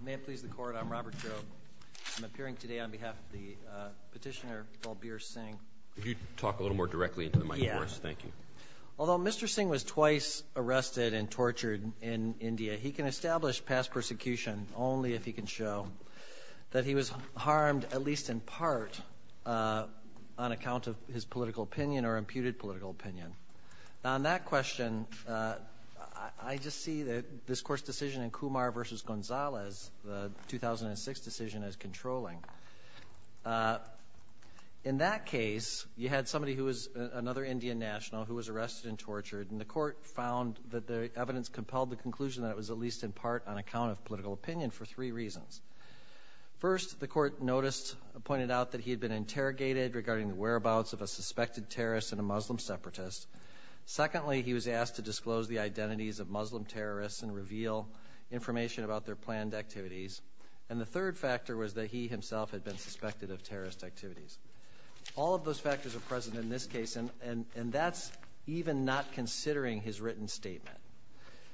May it please the Court, I'm Robert Grobe. I'm appearing today on behalf of the petitioner Balbir Singh. Could you talk a little more directly into the mic, of course? Thank you. Although Mr. Singh was twice arrested and tortured in India, he can establish past persecution only if he can show that he was harmed, at least in part, on account of his political opinion. The first decision in Kumar v. Gonzalez, the 2006 decision, is controlling. In that case, you had somebody who was another Indian national who was arrested and tortured, and the Court found that the evidence compelled the conclusion that it was at least in part on account of political opinion for three reasons. First, the Court noticed, pointed out that he had been interrogated regarding the whereabouts of a suspected terrorist and a Muslim separatist. Secondly, he was asked to disclose the identities of Muslim terrorists and reveal information about their planned activities. And the third factor was that he himself had been suspected of terrorist activities. All of those factors are present in this case, and that's even not considering his written statement.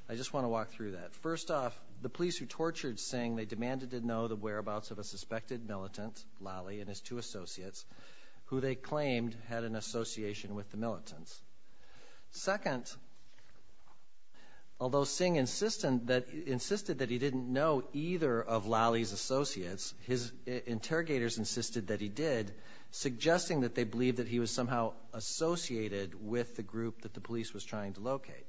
I just want to walk through that. First off, the police who tortured Singh, they demanded to know the whereabouts of a suspected militant, Lali, and his two associates, who they claimed had an association with the militants. Second, although Singh insisted that he didn't know either of Lali's associates, his interrogators insisted that he did, suggesting that they believed that he was somehow associated with the group that the police was trying to locate.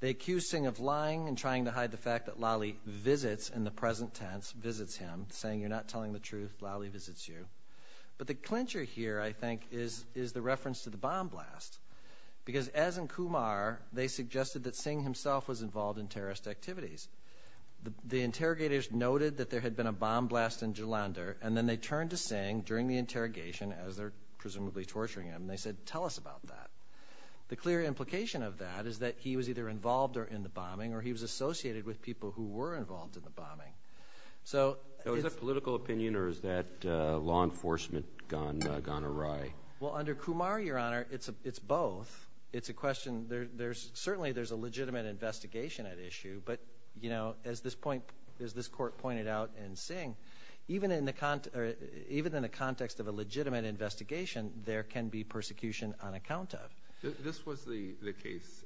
They accused Singh of lying and trying to hide the fact that Lali visits, in the present tense, visits him, saying, you're not telling the truth, Lali visits you. But the clincher here, I think, is a reference to the bomb blast. Because, as in Kumar, they suggested that Singh himself was involved in terrorist activities. The interrogators noted that there had been a bomb blast in Jalandhar, and then they turned to Singh during the interrogation, as they're presumably torturing him, and they said, tell us about that. The clear implication of that is that he was either involved or in the bombing, or he was associated with people who were involved in the bombing. So, it's a political opinion, or is that law enforcement gone awry? Well, under Kumar, Your Honor, it's both. It's a question, there's, certainly there's a legitimate investigation at issue, but, you know, as this point, as this court pointed out in Singh, even in the, even in the context of a legitimate investigation, there can be persecution on account of. This was the case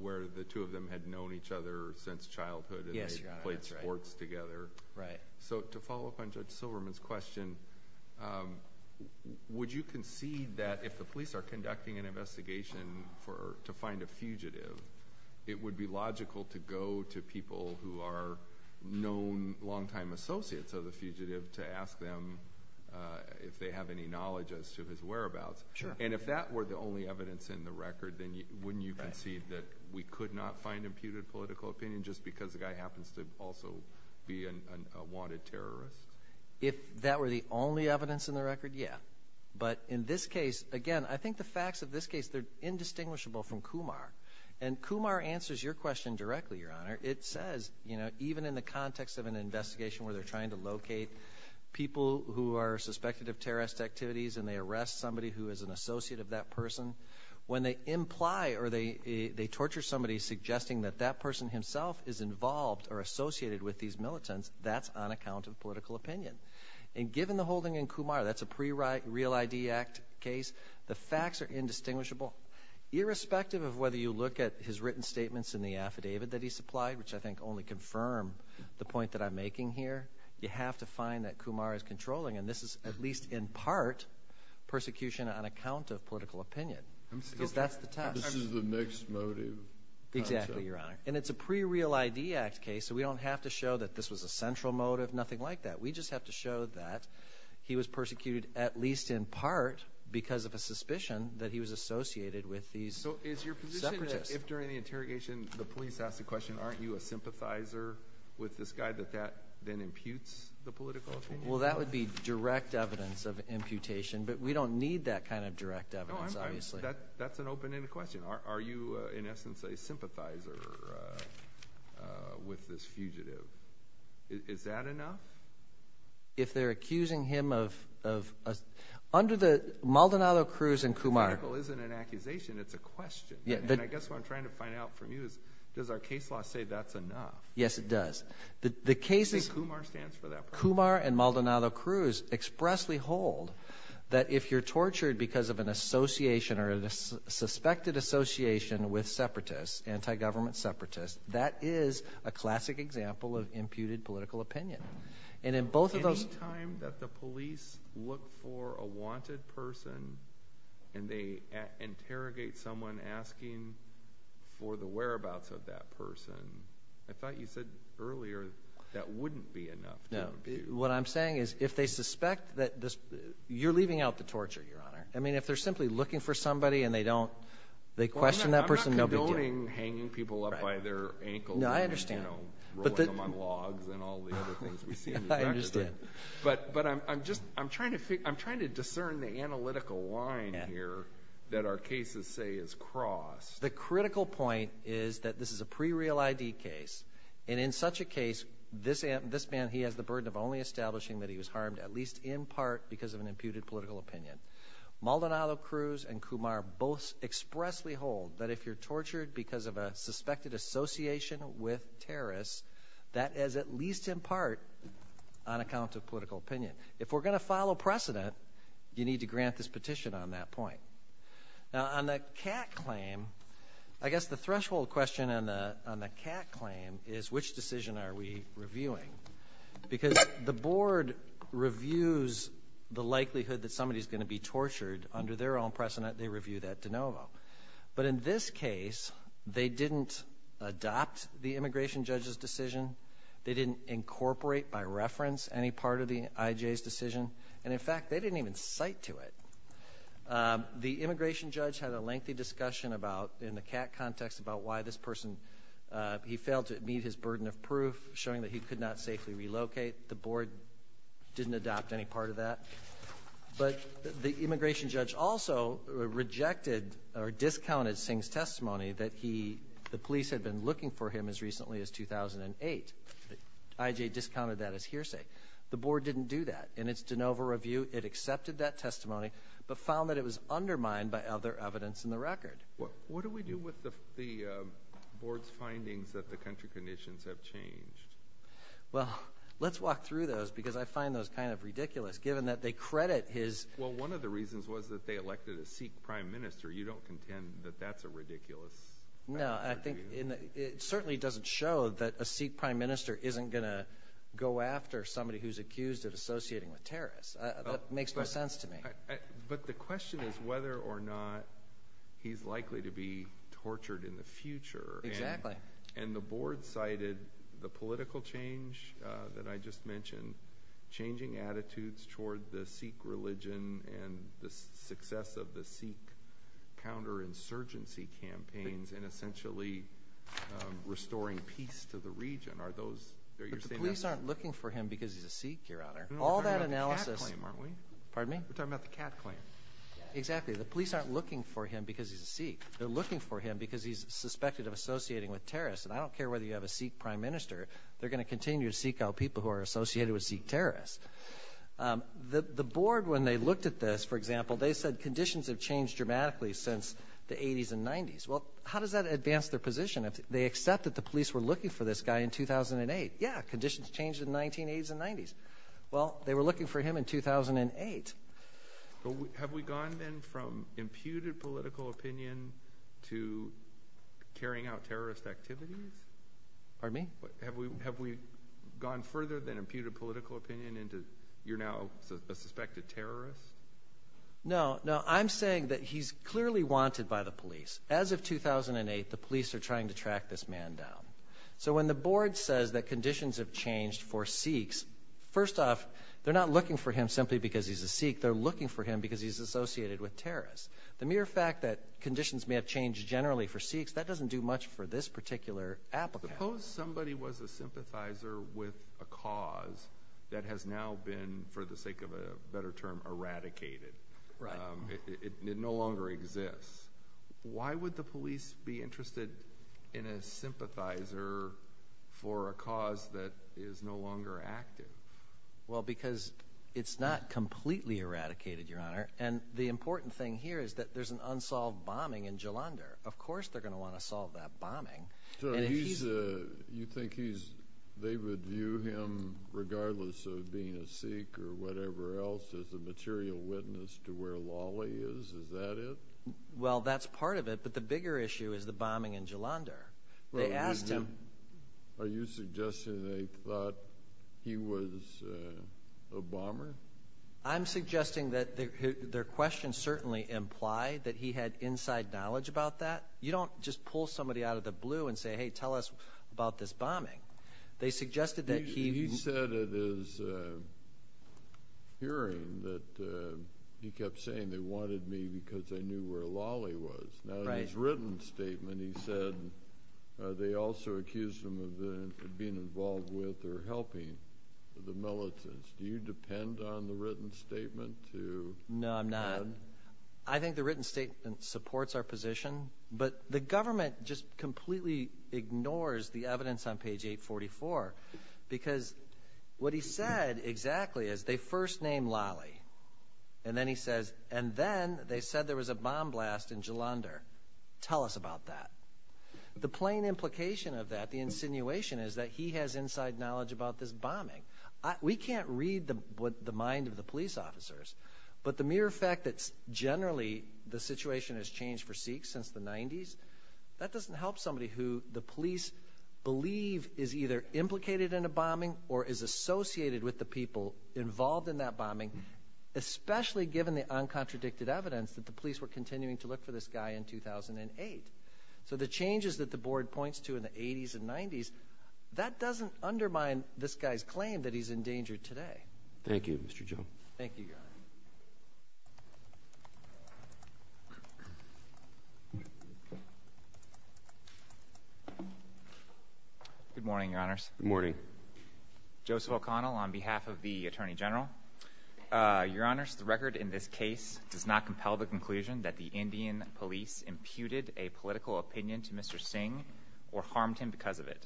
where the two of them had known each other since childhood, and they if the police are conducting an investigation for, to find a fugitive, it would be logical to go to people who are known, long-time associates of the fugitive, to ask them if they have any knowledge as to his whereabouts. And if that were the only evidence in the record, then wouldn't you concede that we could not find imputed political opinion just because the guy happens to also be a wanted terrorist? If that were the only evidence in the record, yeah. But in this case, again, I think the facts of this case, they're indistinguishable from Kumar. And Kumar answers your question directly, Your Honor. It says, you know, even in the context of an investigation where they're trying to locate people who are suspected of terrorist activities and they arrest somebody who is an associate of that person, when they imply or they torture somebody suggesting that that person himself is involved or associated with these militants, that's on account of political opinion. And given the holding in Kumar, that's a pre-Real ID Act case, the facts are indistinguishable. Irrespective of whether you look at his written statements in the affidavit that he supplied, which I think only confirm the point that I'm making here, you have to find that Kumar is controlling, and this is at least in part, persecution on account of political opinion. Because that's the test. This is the mixed motive concept. Exactly, Your Honor. And it's a pre-Real ID Act case, so we don't have to show that this was a central motive, nothing like that. We just have to show that he was persecuted, at least in part, because of a suspicion that he was associated with these separatists. So is your position that if during the interrogation the police ask the question, aren't you a sympathizer with this guy, that that then imputes the political opinion? Well, that would be direct evidence of imputation, but we don't need that kind of direct evidence, obviously. That's an open-ended question. Are you, in essence, a sympathizer with this fugitive? Is that enough? If they're accusing him of... Under the... Maldonado-Cruz and Kumar... Political isn't an accusation, it's a question. And I guess what I'm trying to find out from you is, does our case law say that's enough? Yes, it does. The case is... I think Kumar stands for that part. Kumar and Maldonado-Cruz expressly hold that if you're tortured because of an association or a suspected association with separatists, anti-government separatists, that is a classic example of imputed political opinion. And in both of those... Any time that the police look for a wanted person and they interrogate someone asking for the whereabouts of that person, I thought you said earlier that wouldn't be enough to impute. What I'm saying is, if they suspect that... You're leaving out the torture, Your Honor. If they're simply looking for somebody and they question that person, no big deal. I'm not condoning hanging people up by their ankles and rolling them on logs and all the other things we see in the back of them. But I'm trying to discern the analytical line here that our cases say is cross. The critical point is that this is a pre-real ID case. And in such a case, this man, he has the burden of only establishing that he was harmed, at least in part, because of an Maldonado Cruz and Kumar both expressly hold that if you're tortured because of a suspected association with terrorists, that is at least in part on account of political opinion. If we're going to follow precedent, you need to grant this petition on that point. Now, on the cat claim, I guess the threshold question on the cat claim is, which decision are we reviewing? Because the board reviews the likelihood that somebody's going to be tortured under their own precedent, they review that de novo. But in this case, they didn't adopt the immigration judge's decision. They didn't incorporate by reference any part of the IJ's decision. And in fact, they didn't even cite to it. The immigration judge had a lengthy discussion about, in the cat context, about why this person, he failed to meet his burden of proof, showing that he could not safely relocate. The board didn't adopt any part of that. But the immigration judge also rejected or discounted Singh's testimony that the police had been looking for him as recently as 2008. IJ discounted that as hearsay. The board didn't do that. In its de novo review, it accepted that testimony, but found that it was undermined by other evidence in the record. What do we do with the board's findings that the country conditions have changed? Well, let's walk through those, because I find those kind of ridiculous, given that they credit his... Well, one of the reasons was that they elected a Sikh prime minister. You don't contend that that's a ridiculous... No, I think it certainly doesn't show that a Sikh prime minister isn't going to go after somebody who's accused of associating with terrorists. That makes no sense to me. But the question is whether or not he's likely to be tortured in the future. Exactly. And the board cited the political change that I just mentioned, changing attitudes toward the Sikh religion and the success of the Sikh counterinsurgency campaigns, and essentially restoring peace to the region. Are those... But the police aren't looking for him because he's a Sikh, Your Honor. All that analysis... We're talking about the Kat claim, aren't we? Pardon me? We're talking about the Kat claim. Exactly. The police aren't looking for him because he's a Sikh. They're looking for him because he's suspected of associating with terrorists. And I don't care whether you have a Sikh prime minister, they're going to continue to seek out people who are associated with Sikh terrorists. The board, when they looked at this, for example, they said conditions have changed dramatically since the 80s and 90s. Well, how does that advance their position? They accept that the police were looking for this guy in 2008. Yeah, conditions changed in the 1980s and 90s. Well, they were looking for him in 2008. Have we gone then from imputed political opinion to carrying out terrorist activities? Pardon me? Have we gone further than imputed political opinion into you're now a suspected terrorist? No, no. I'm saying that he's clearly wanted by the police. As of 2008, the police are trying to track this man down. So when the board says that conditions have changed for him because he's a Sikh, they're looking for him because he's associated with terrorists. The mere fact that conditions may have changed generally for Sikhs, that doesn't do much for this particular applicant. Suppose somebody was a sympathizer with a cause that has now been, for the sake of a better term, eradicated. It no longer exists. Why would the police be interested in a sympathizer for a cause that is no longer active? Well, because it's not completely eradicated, Your Honor. And the important thing here is that there's an unsolved bombing in Jalandhar. Of course they're going to want to solve that bombing. So you think they would view him, regardless of being a Sikh or whatever else, as a material witness to where Lali is? Is that it? Well, that's part of it. But the bigger issue is the bombing in Jalandhar. They asked him Are you suggesting they thought he was a bomber? I'm suggesting that their question certainly implied that he had inside knowledge about that. You don't just pull somebody out of the blue and say, hey, tell us about this bombing. They suggested that he He said at his hearing that he kept saying they wanted me because they knew where Lali was. Right. In his written statement, he said they also accused him of being involved with or helping the militants. Do you depend on the written statement to No, I'm not. I think the written statement supports our position. But the government just completely ignores the evidence on page 844 because what he said exactly is they first And then he says, and then they said there was a bomb blast in Jalandhar. Tell us about that. The plain implication of that, the insinuation, is that he has inside knowledge about this bombing. We can't read the mind of the police officers. But the mere fact that generally the situation has changed for Sikhs since the 90s, that doesn't help somebody who the police believe is either implicated in a bombing or is associated with the people involved in that bombing, especially given the uncontradicted evidence that the police were continuing to look for this guy in 2008. So the changes that the board points to in the 80s and 90s, that doesn't undermine this guy's claim that he's in danger today. Thank you, Mr. Joe. Thank you, Your Honor. Good morning, Your Honors. Good morning. Joseph O'Connell on behalf of the Attorney General. Your Honors, the record in this case does not compel the conclusion that the Indian police imputed a political opinion to Mr. Singh or harmed him because of it.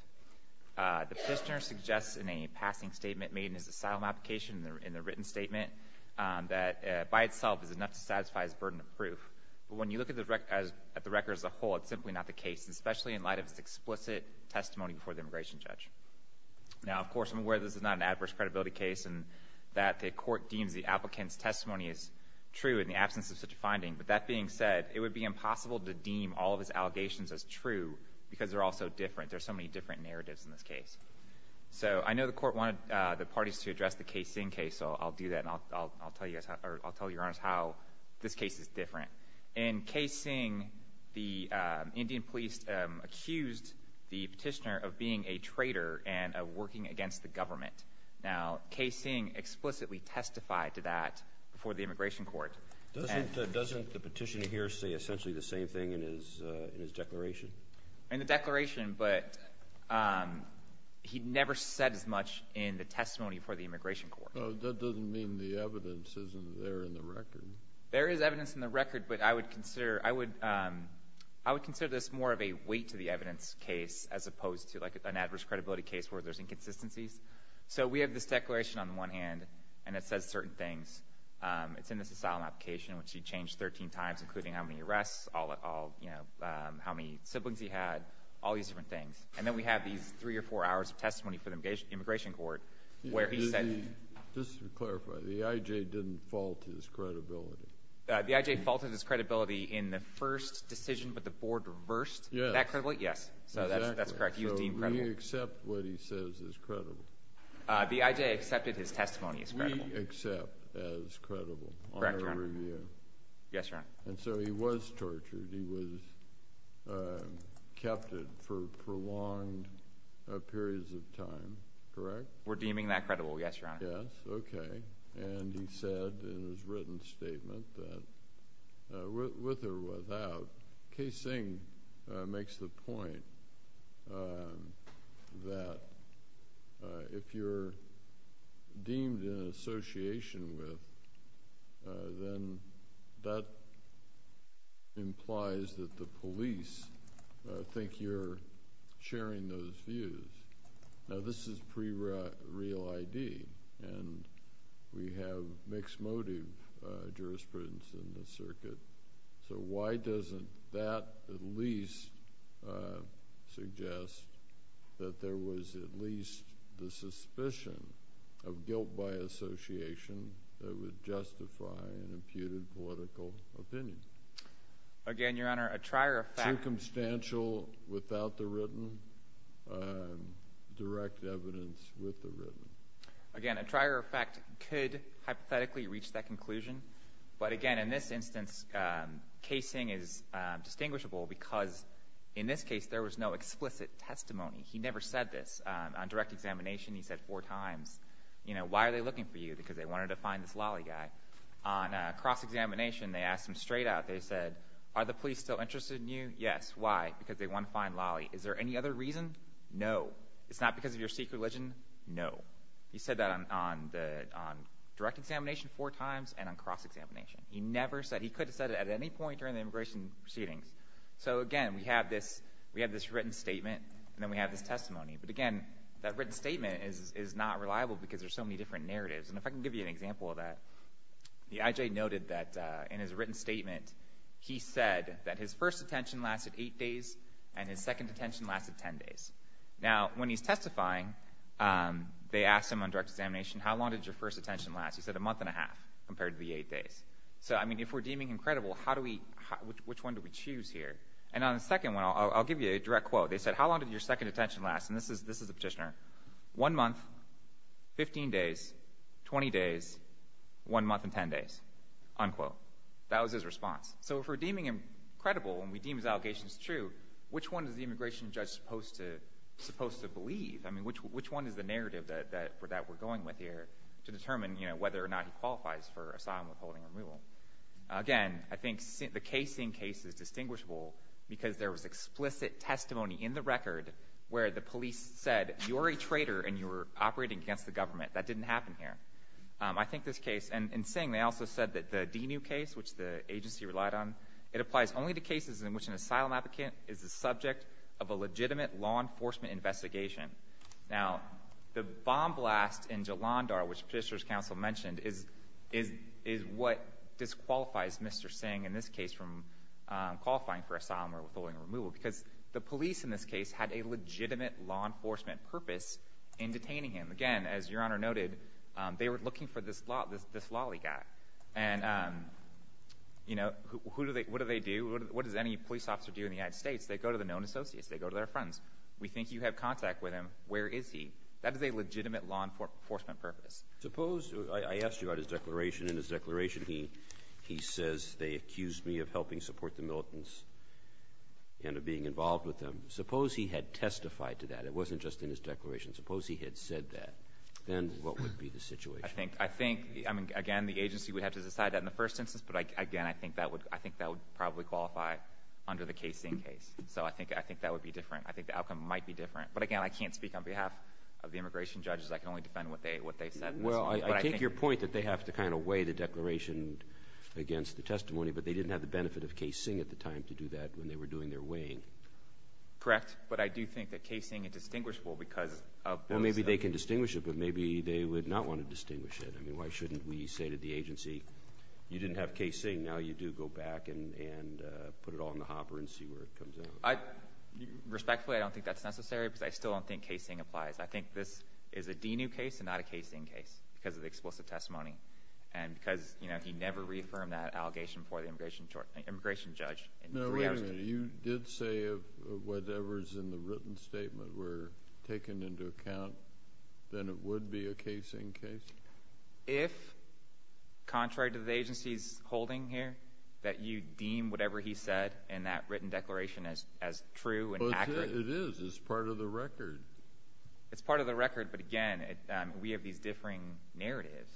The prisoner suggests in a passing statement made in his asylum application, in the written statement, that by itself is enough to satisfy his burden of proof. But when you look at the record as a whole, it's simply not the case, especially in light of his explicit testimony before the immigration judge. Now, of course, I'm aware that this is not an adverse credibility case and that the court deems the applicant's testimony is true in the absence of such a finding. But that being said, it would be impossible to deem all of his allegations as true because they're all so different. There are so many different narratives in this case. So I know the court wanted the parties to address the K. Singh case, so I'll do that, and I'll tell you, Your Honors, how this case is different. In K. Singh, the Indian police accused the petitioner of being a traitor and of working against the government. Now, K. Singh explicitly testified to that before the immigration court. Doesn't the petitioner here say essentially the same thing in his declaration? In the declaration, but he never said as much in the testimony before the immigration court. That doesn't mean the evidence isn't there in the record. There is evidence in the record, but I would consider this more of a weight-to-the-evidence case as opposed to an adverse credibility case where there's inconsistencies. So we have this declaration on the one hand, and it says certain things. It's in this asylum application, which he changed 13 times, including how many arrests, how many siblings he had, all these different things. And then we have these three or four hours of testimony for the immigration court where he said… Just to clarify, the I.J. didn't fault his credibility? The I.J. faulted his credibility in the first decision, but the board reversed that credibility? Yes. Yes, so that's correct. He was deemed credible. So we accept what he says is credible? The I.J. accepted his testimony as credible. We accept as credible on our review. Correct, Your Honor. Yes, Your Honor. And so he was tortured. He was kept for prolonged periods of time, correct? We're deeming that credible, yes, Your Honor. Yes, okay. And he said in his written statement that, with or without, K. Singh makes the implies that the police think you're sharing those views. Now, this is pre-real ID, and we have mixed motive jurisprudence in this circuit, so why doesn't that at least suggest that there was at least the suspicion of guilt by association that would justify an imputed political opinion? Again, Your Honor, a trier of fact Circumstantial without the written, direct evidence with the written. Again, a trier of fact could hypothetically reach that conclusion, but again, in this instance, K. Singh is distinguishable because, in this case, there was no explicit testimony. He never said this. On direct examination, he said four times, you know, why are they out, they said, are the police still interested in you? Yes. Why? Because they want to find Lolly. Is there any other reason? No. It's not because of your Sikh religion? No. He said that on direct examination four times and on cross-examination. He never said, he could have said it at any point during the immigration proceedings. So again, we have this written statement, and then we have this testimony. But again, that written statement is not reliable because there's so many different narratives. And if I can give you an example of that, the I.J. noted that in his written statement, he said that his first detention lasted eight days and his second detention lasted ten days. Now, when he's testifying, they asked him on direct examination, how long did your first detention last? He said a month and a half compared to the eight days. So, I mean, if we're deeming incredible, how do we, which one do we choose here? And on the second one, I'll give you a direct quote. They said, how long did your second detention last? And this is a petitioner. One month, 15 days, 20 days, one month and ten days, unquote. That was his response. So if we're deeming him credible and we deem his allegations true, which one is the immigration judge supposed to believe? I mean, which one is the narrative that we're going with here to determine, you know, whether or not he qualifies for asylum withholding or removal? Again, I think the case in case is distinguishable because there was explicit testimony in the case that said, you're a traitor and you're operating against the government. That didn't happen here. I think this case, and in Singh, they also said that the DENU case, which the agency relied on, it applies only to cases in which an asylum applicant is the subject of a legitimate law enforcement investigation. Now, the bomb blast in Jalandhar, which Petitioner's Counsel mentioned, is what disqualifies Mr. Singh in this case from qualifying for asylum or withholding or removal, because the police in this case had a legitimate law enforcement purpose in detaining him. Again, as Your Honor noted, they were looking for this lolly guy. And, you know, who do they do? What does any police officer do in the United States? They go to the known associates. They go to their friends. We think you have contact with him. Where is he? That is a legitimate law enforcement purpose. I asked you about his declaration. In his declaration, he says, they accused me of helping support the militants and of being involved with them. Suppose he had testified to that. It wasn't just in his declaration. Suppose he had said that. Then what would be the situation? I think the agency would have to decide that in the first instance, but again, I think that would probably qualify under the case in case. So I think that would be different. I think the outcome might be different. But again, I can't speak on behalf of the immigration judges. I can only defend what they said. Well, I take your point that they have to kind of weigh the declaration against the testimony, but they didn't have the benefit of casing at the time to do that when they were doing their weighing. Correct. But I do think that casing is distinguishable because of both sides. Well, maybe they can distinguish it, but maybe they would not want to distinguish it. I mean, why shouldn't we say to the agency, you didn't have casing. Now you do. Go back and put it all in the hopper and see where it comes out. Respectfully, I don't think that's necessary because I still don't think casing applies. I think this is a DNU case and not a casing case because of the explicit testimony and because, you know, he never reaffirmed that allegation before the immigration judge. No, wait a minute. You did say if whatever's in the written statement were taken into account, then it would be a casing case? If, contrary to the agency's holding here, that you deem whatever he said in that written declaration as true and accurate. It is. It's part of the record. It's part of the record, but again, we have these differing narratives.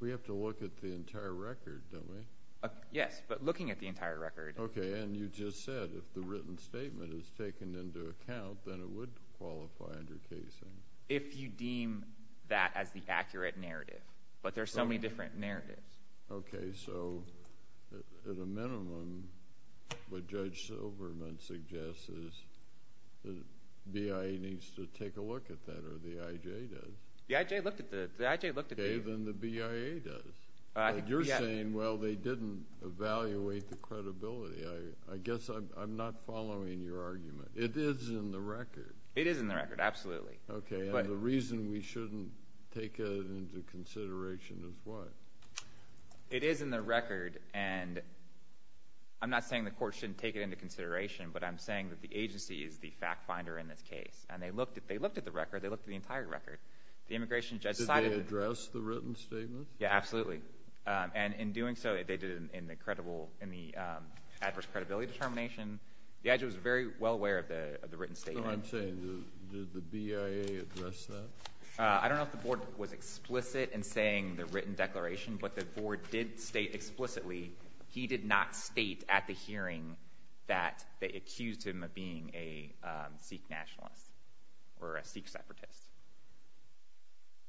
We have to look at the entire record, don't we? Yes, but looking at the entire record. Okay, and you just said if the written statement is taken into account, then it would qualify under casing. If you deem that as the accurate narrative. But there are so many different narratives. Okay, so at a minimum, what Judge Silverman suggests is the BIA needs to take a look at that or the IJ does. The IJ looked at it. Okay, then the BIA does. You're saying, well, they didn't evaluate the credibility. I guess I'm not following your argument. It is in the record. It is in the record, absolutely. Okay, and the reason we shouldn't take it into consideration is what? It is in the record, and I'm not saying the court shouldn't take it into consideration, but I'm saying that the agency is the fact finder in this case. And they looked at the record. They looked at the entire record. Did they address the written statement? Yeah, absolutely. And in doing so, they did it in the adverse credibility determination. The IJ was very well aware of the written statement. That's what I'm saying. Did the BIA address that? I don't know if the board was explicit in saying the written declaration, but the board did state explicitly. He did not state at the hearing that they accused him of being a Sikh nationalist or a Sikh separatist.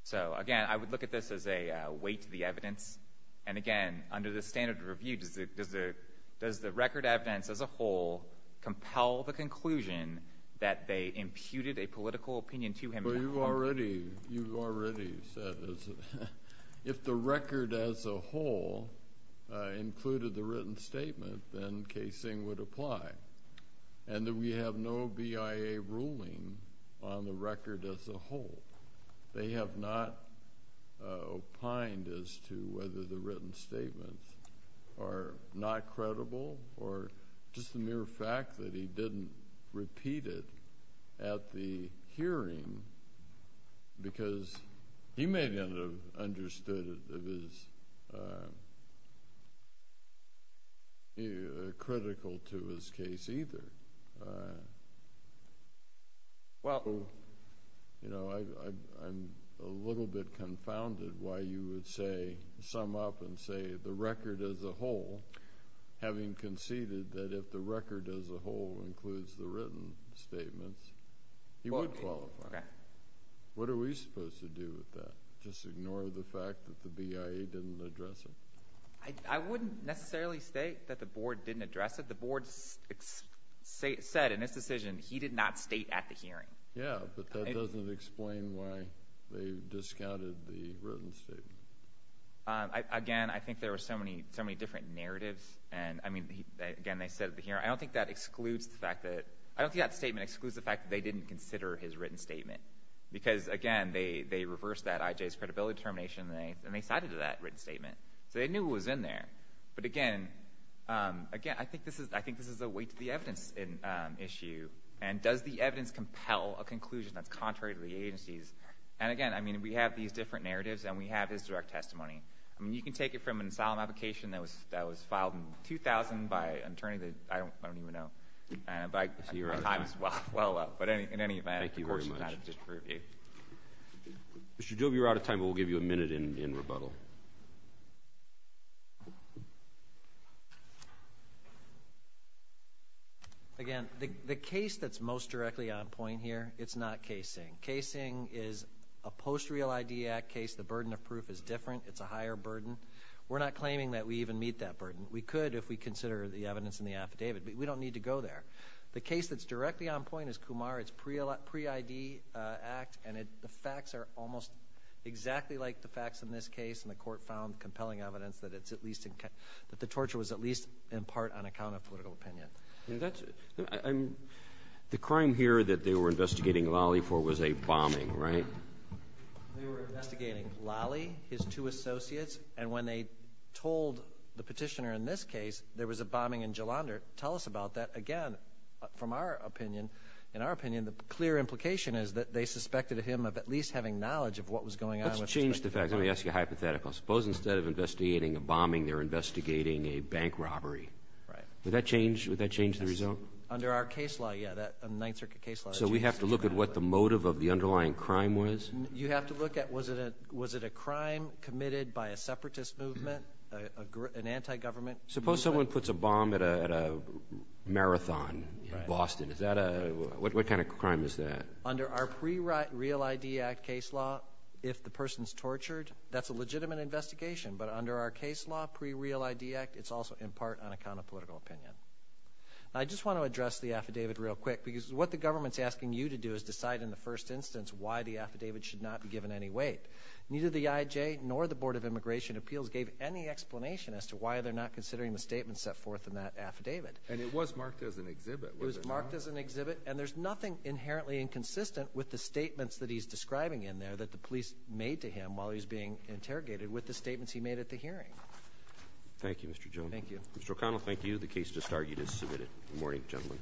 So, again, I would look at this as a weight to the evidence. And, again, under the standard of review, does the record evidence as a whole compel the political opinion to him? Well, you've already said this. If the record as a whole included the written statement, then casing would apply. And we have no BIA ruling on the record as a whole. They have not opined as to whether the written statements are not credible or just the mere fact that he didn't repeat it at the hearing because he may not have understood it as critical to his case either. Well, you know, I'm a little bit confounded why you would sum up and say the record as a whole, having conceded that if the record as a whole includes the written statements, he would qualify. Okay. What are we supposed to do with that? Just ignore the fact that the BIA didn't address it? I wouldn't necessarily state that the board didn't address it. The board said in its decision he did not state at the hearing. Yeah, but that doesn't explain why they discounted the written statement. Again, I think there were so many different narratives. And, I mean, again, they said at the hearing. I don't think that statement excludes the fact that they didn't consider his written statement because, again, they reversed that IJ's credibility determination and they cited that written statement. So they knew it was in there. But, again, I think this is a weight to the evidence issue. And does the evidence compel a conclusion that's contrary to the agency's? And, again, I mean, we have these different narratives and we have his direct testimony. I mean, you can take it from an asylum application that was filed in 2000 by an attorney that I don't even know. So you're out of time. Well, well, well. But in any event, of course, you've got to disprove it. Thank you very much. Mr. Jobe, you're out of time, but we'll give you a minute in rebuttal. Again, the case that's most directly on point here, it's not casing. Casing is a post-real ID act case. The burden of proof is different. It's a higher burden. We're not claiming that we even meet that burden. We could if we consider the evidence in the affidavit. But we don't need to go there. The case that's directly on point is Kumar. It's pre-ID act. And the facts are almost exactly like the facts in this case. And the Court found compelling evidence that it's at least – that the torture was at least in part on account of political opinion. The crime here that they were investigating Lally for was a bombing, right? They were investigating Lally, his two associates. And when they told the Petitioner in this case there was a bombing in Jalandhar, tell us about that again from our opinion. In our opinion, the clear implication is that they suspected him of at least having knowledge of what was going on. Let's change the facts. Let me ask you a hypothetical. Suppose instead of investigating a bombing, they're investigating a bank robbery. Right. Would that change? Would that change the result? Under our case law, yeah. That Ninth Circuit case law changes. So we have to look at what the motive of the underlying crime was? You have to look at was it a crime committed by a separatist movement, an anti-government? Suppose someone puts a bomb at a marathon in Boston. Right. Is that a – what kind of crime is that? Under our pre-real ID act case law, if the person's tortured, that's a legitimate investigation. But under our case law, pre-real ID act, it's also in part on account of political opinion. I just want to address the affidavit real quick because what the government's asking you to do is decide in the first instance why the affidavit should not be given any weight. Neither the IJ nor the Board of Immigration Appeals gave any explanation as to why they're not considering the statement set forth in that affidavit. And it was marked as an exhibit, was it not? It was marked as an exhibit, and there's nothing inherently inconsistent with the statements that he's describing in there that the police made to him while he was being interrogated with the statements he made at the hearing. Thank you, Mr. Jones. Thank you. Mr. O'Connell, thank you. The case just argued is submitted. Good morning, gentlemen.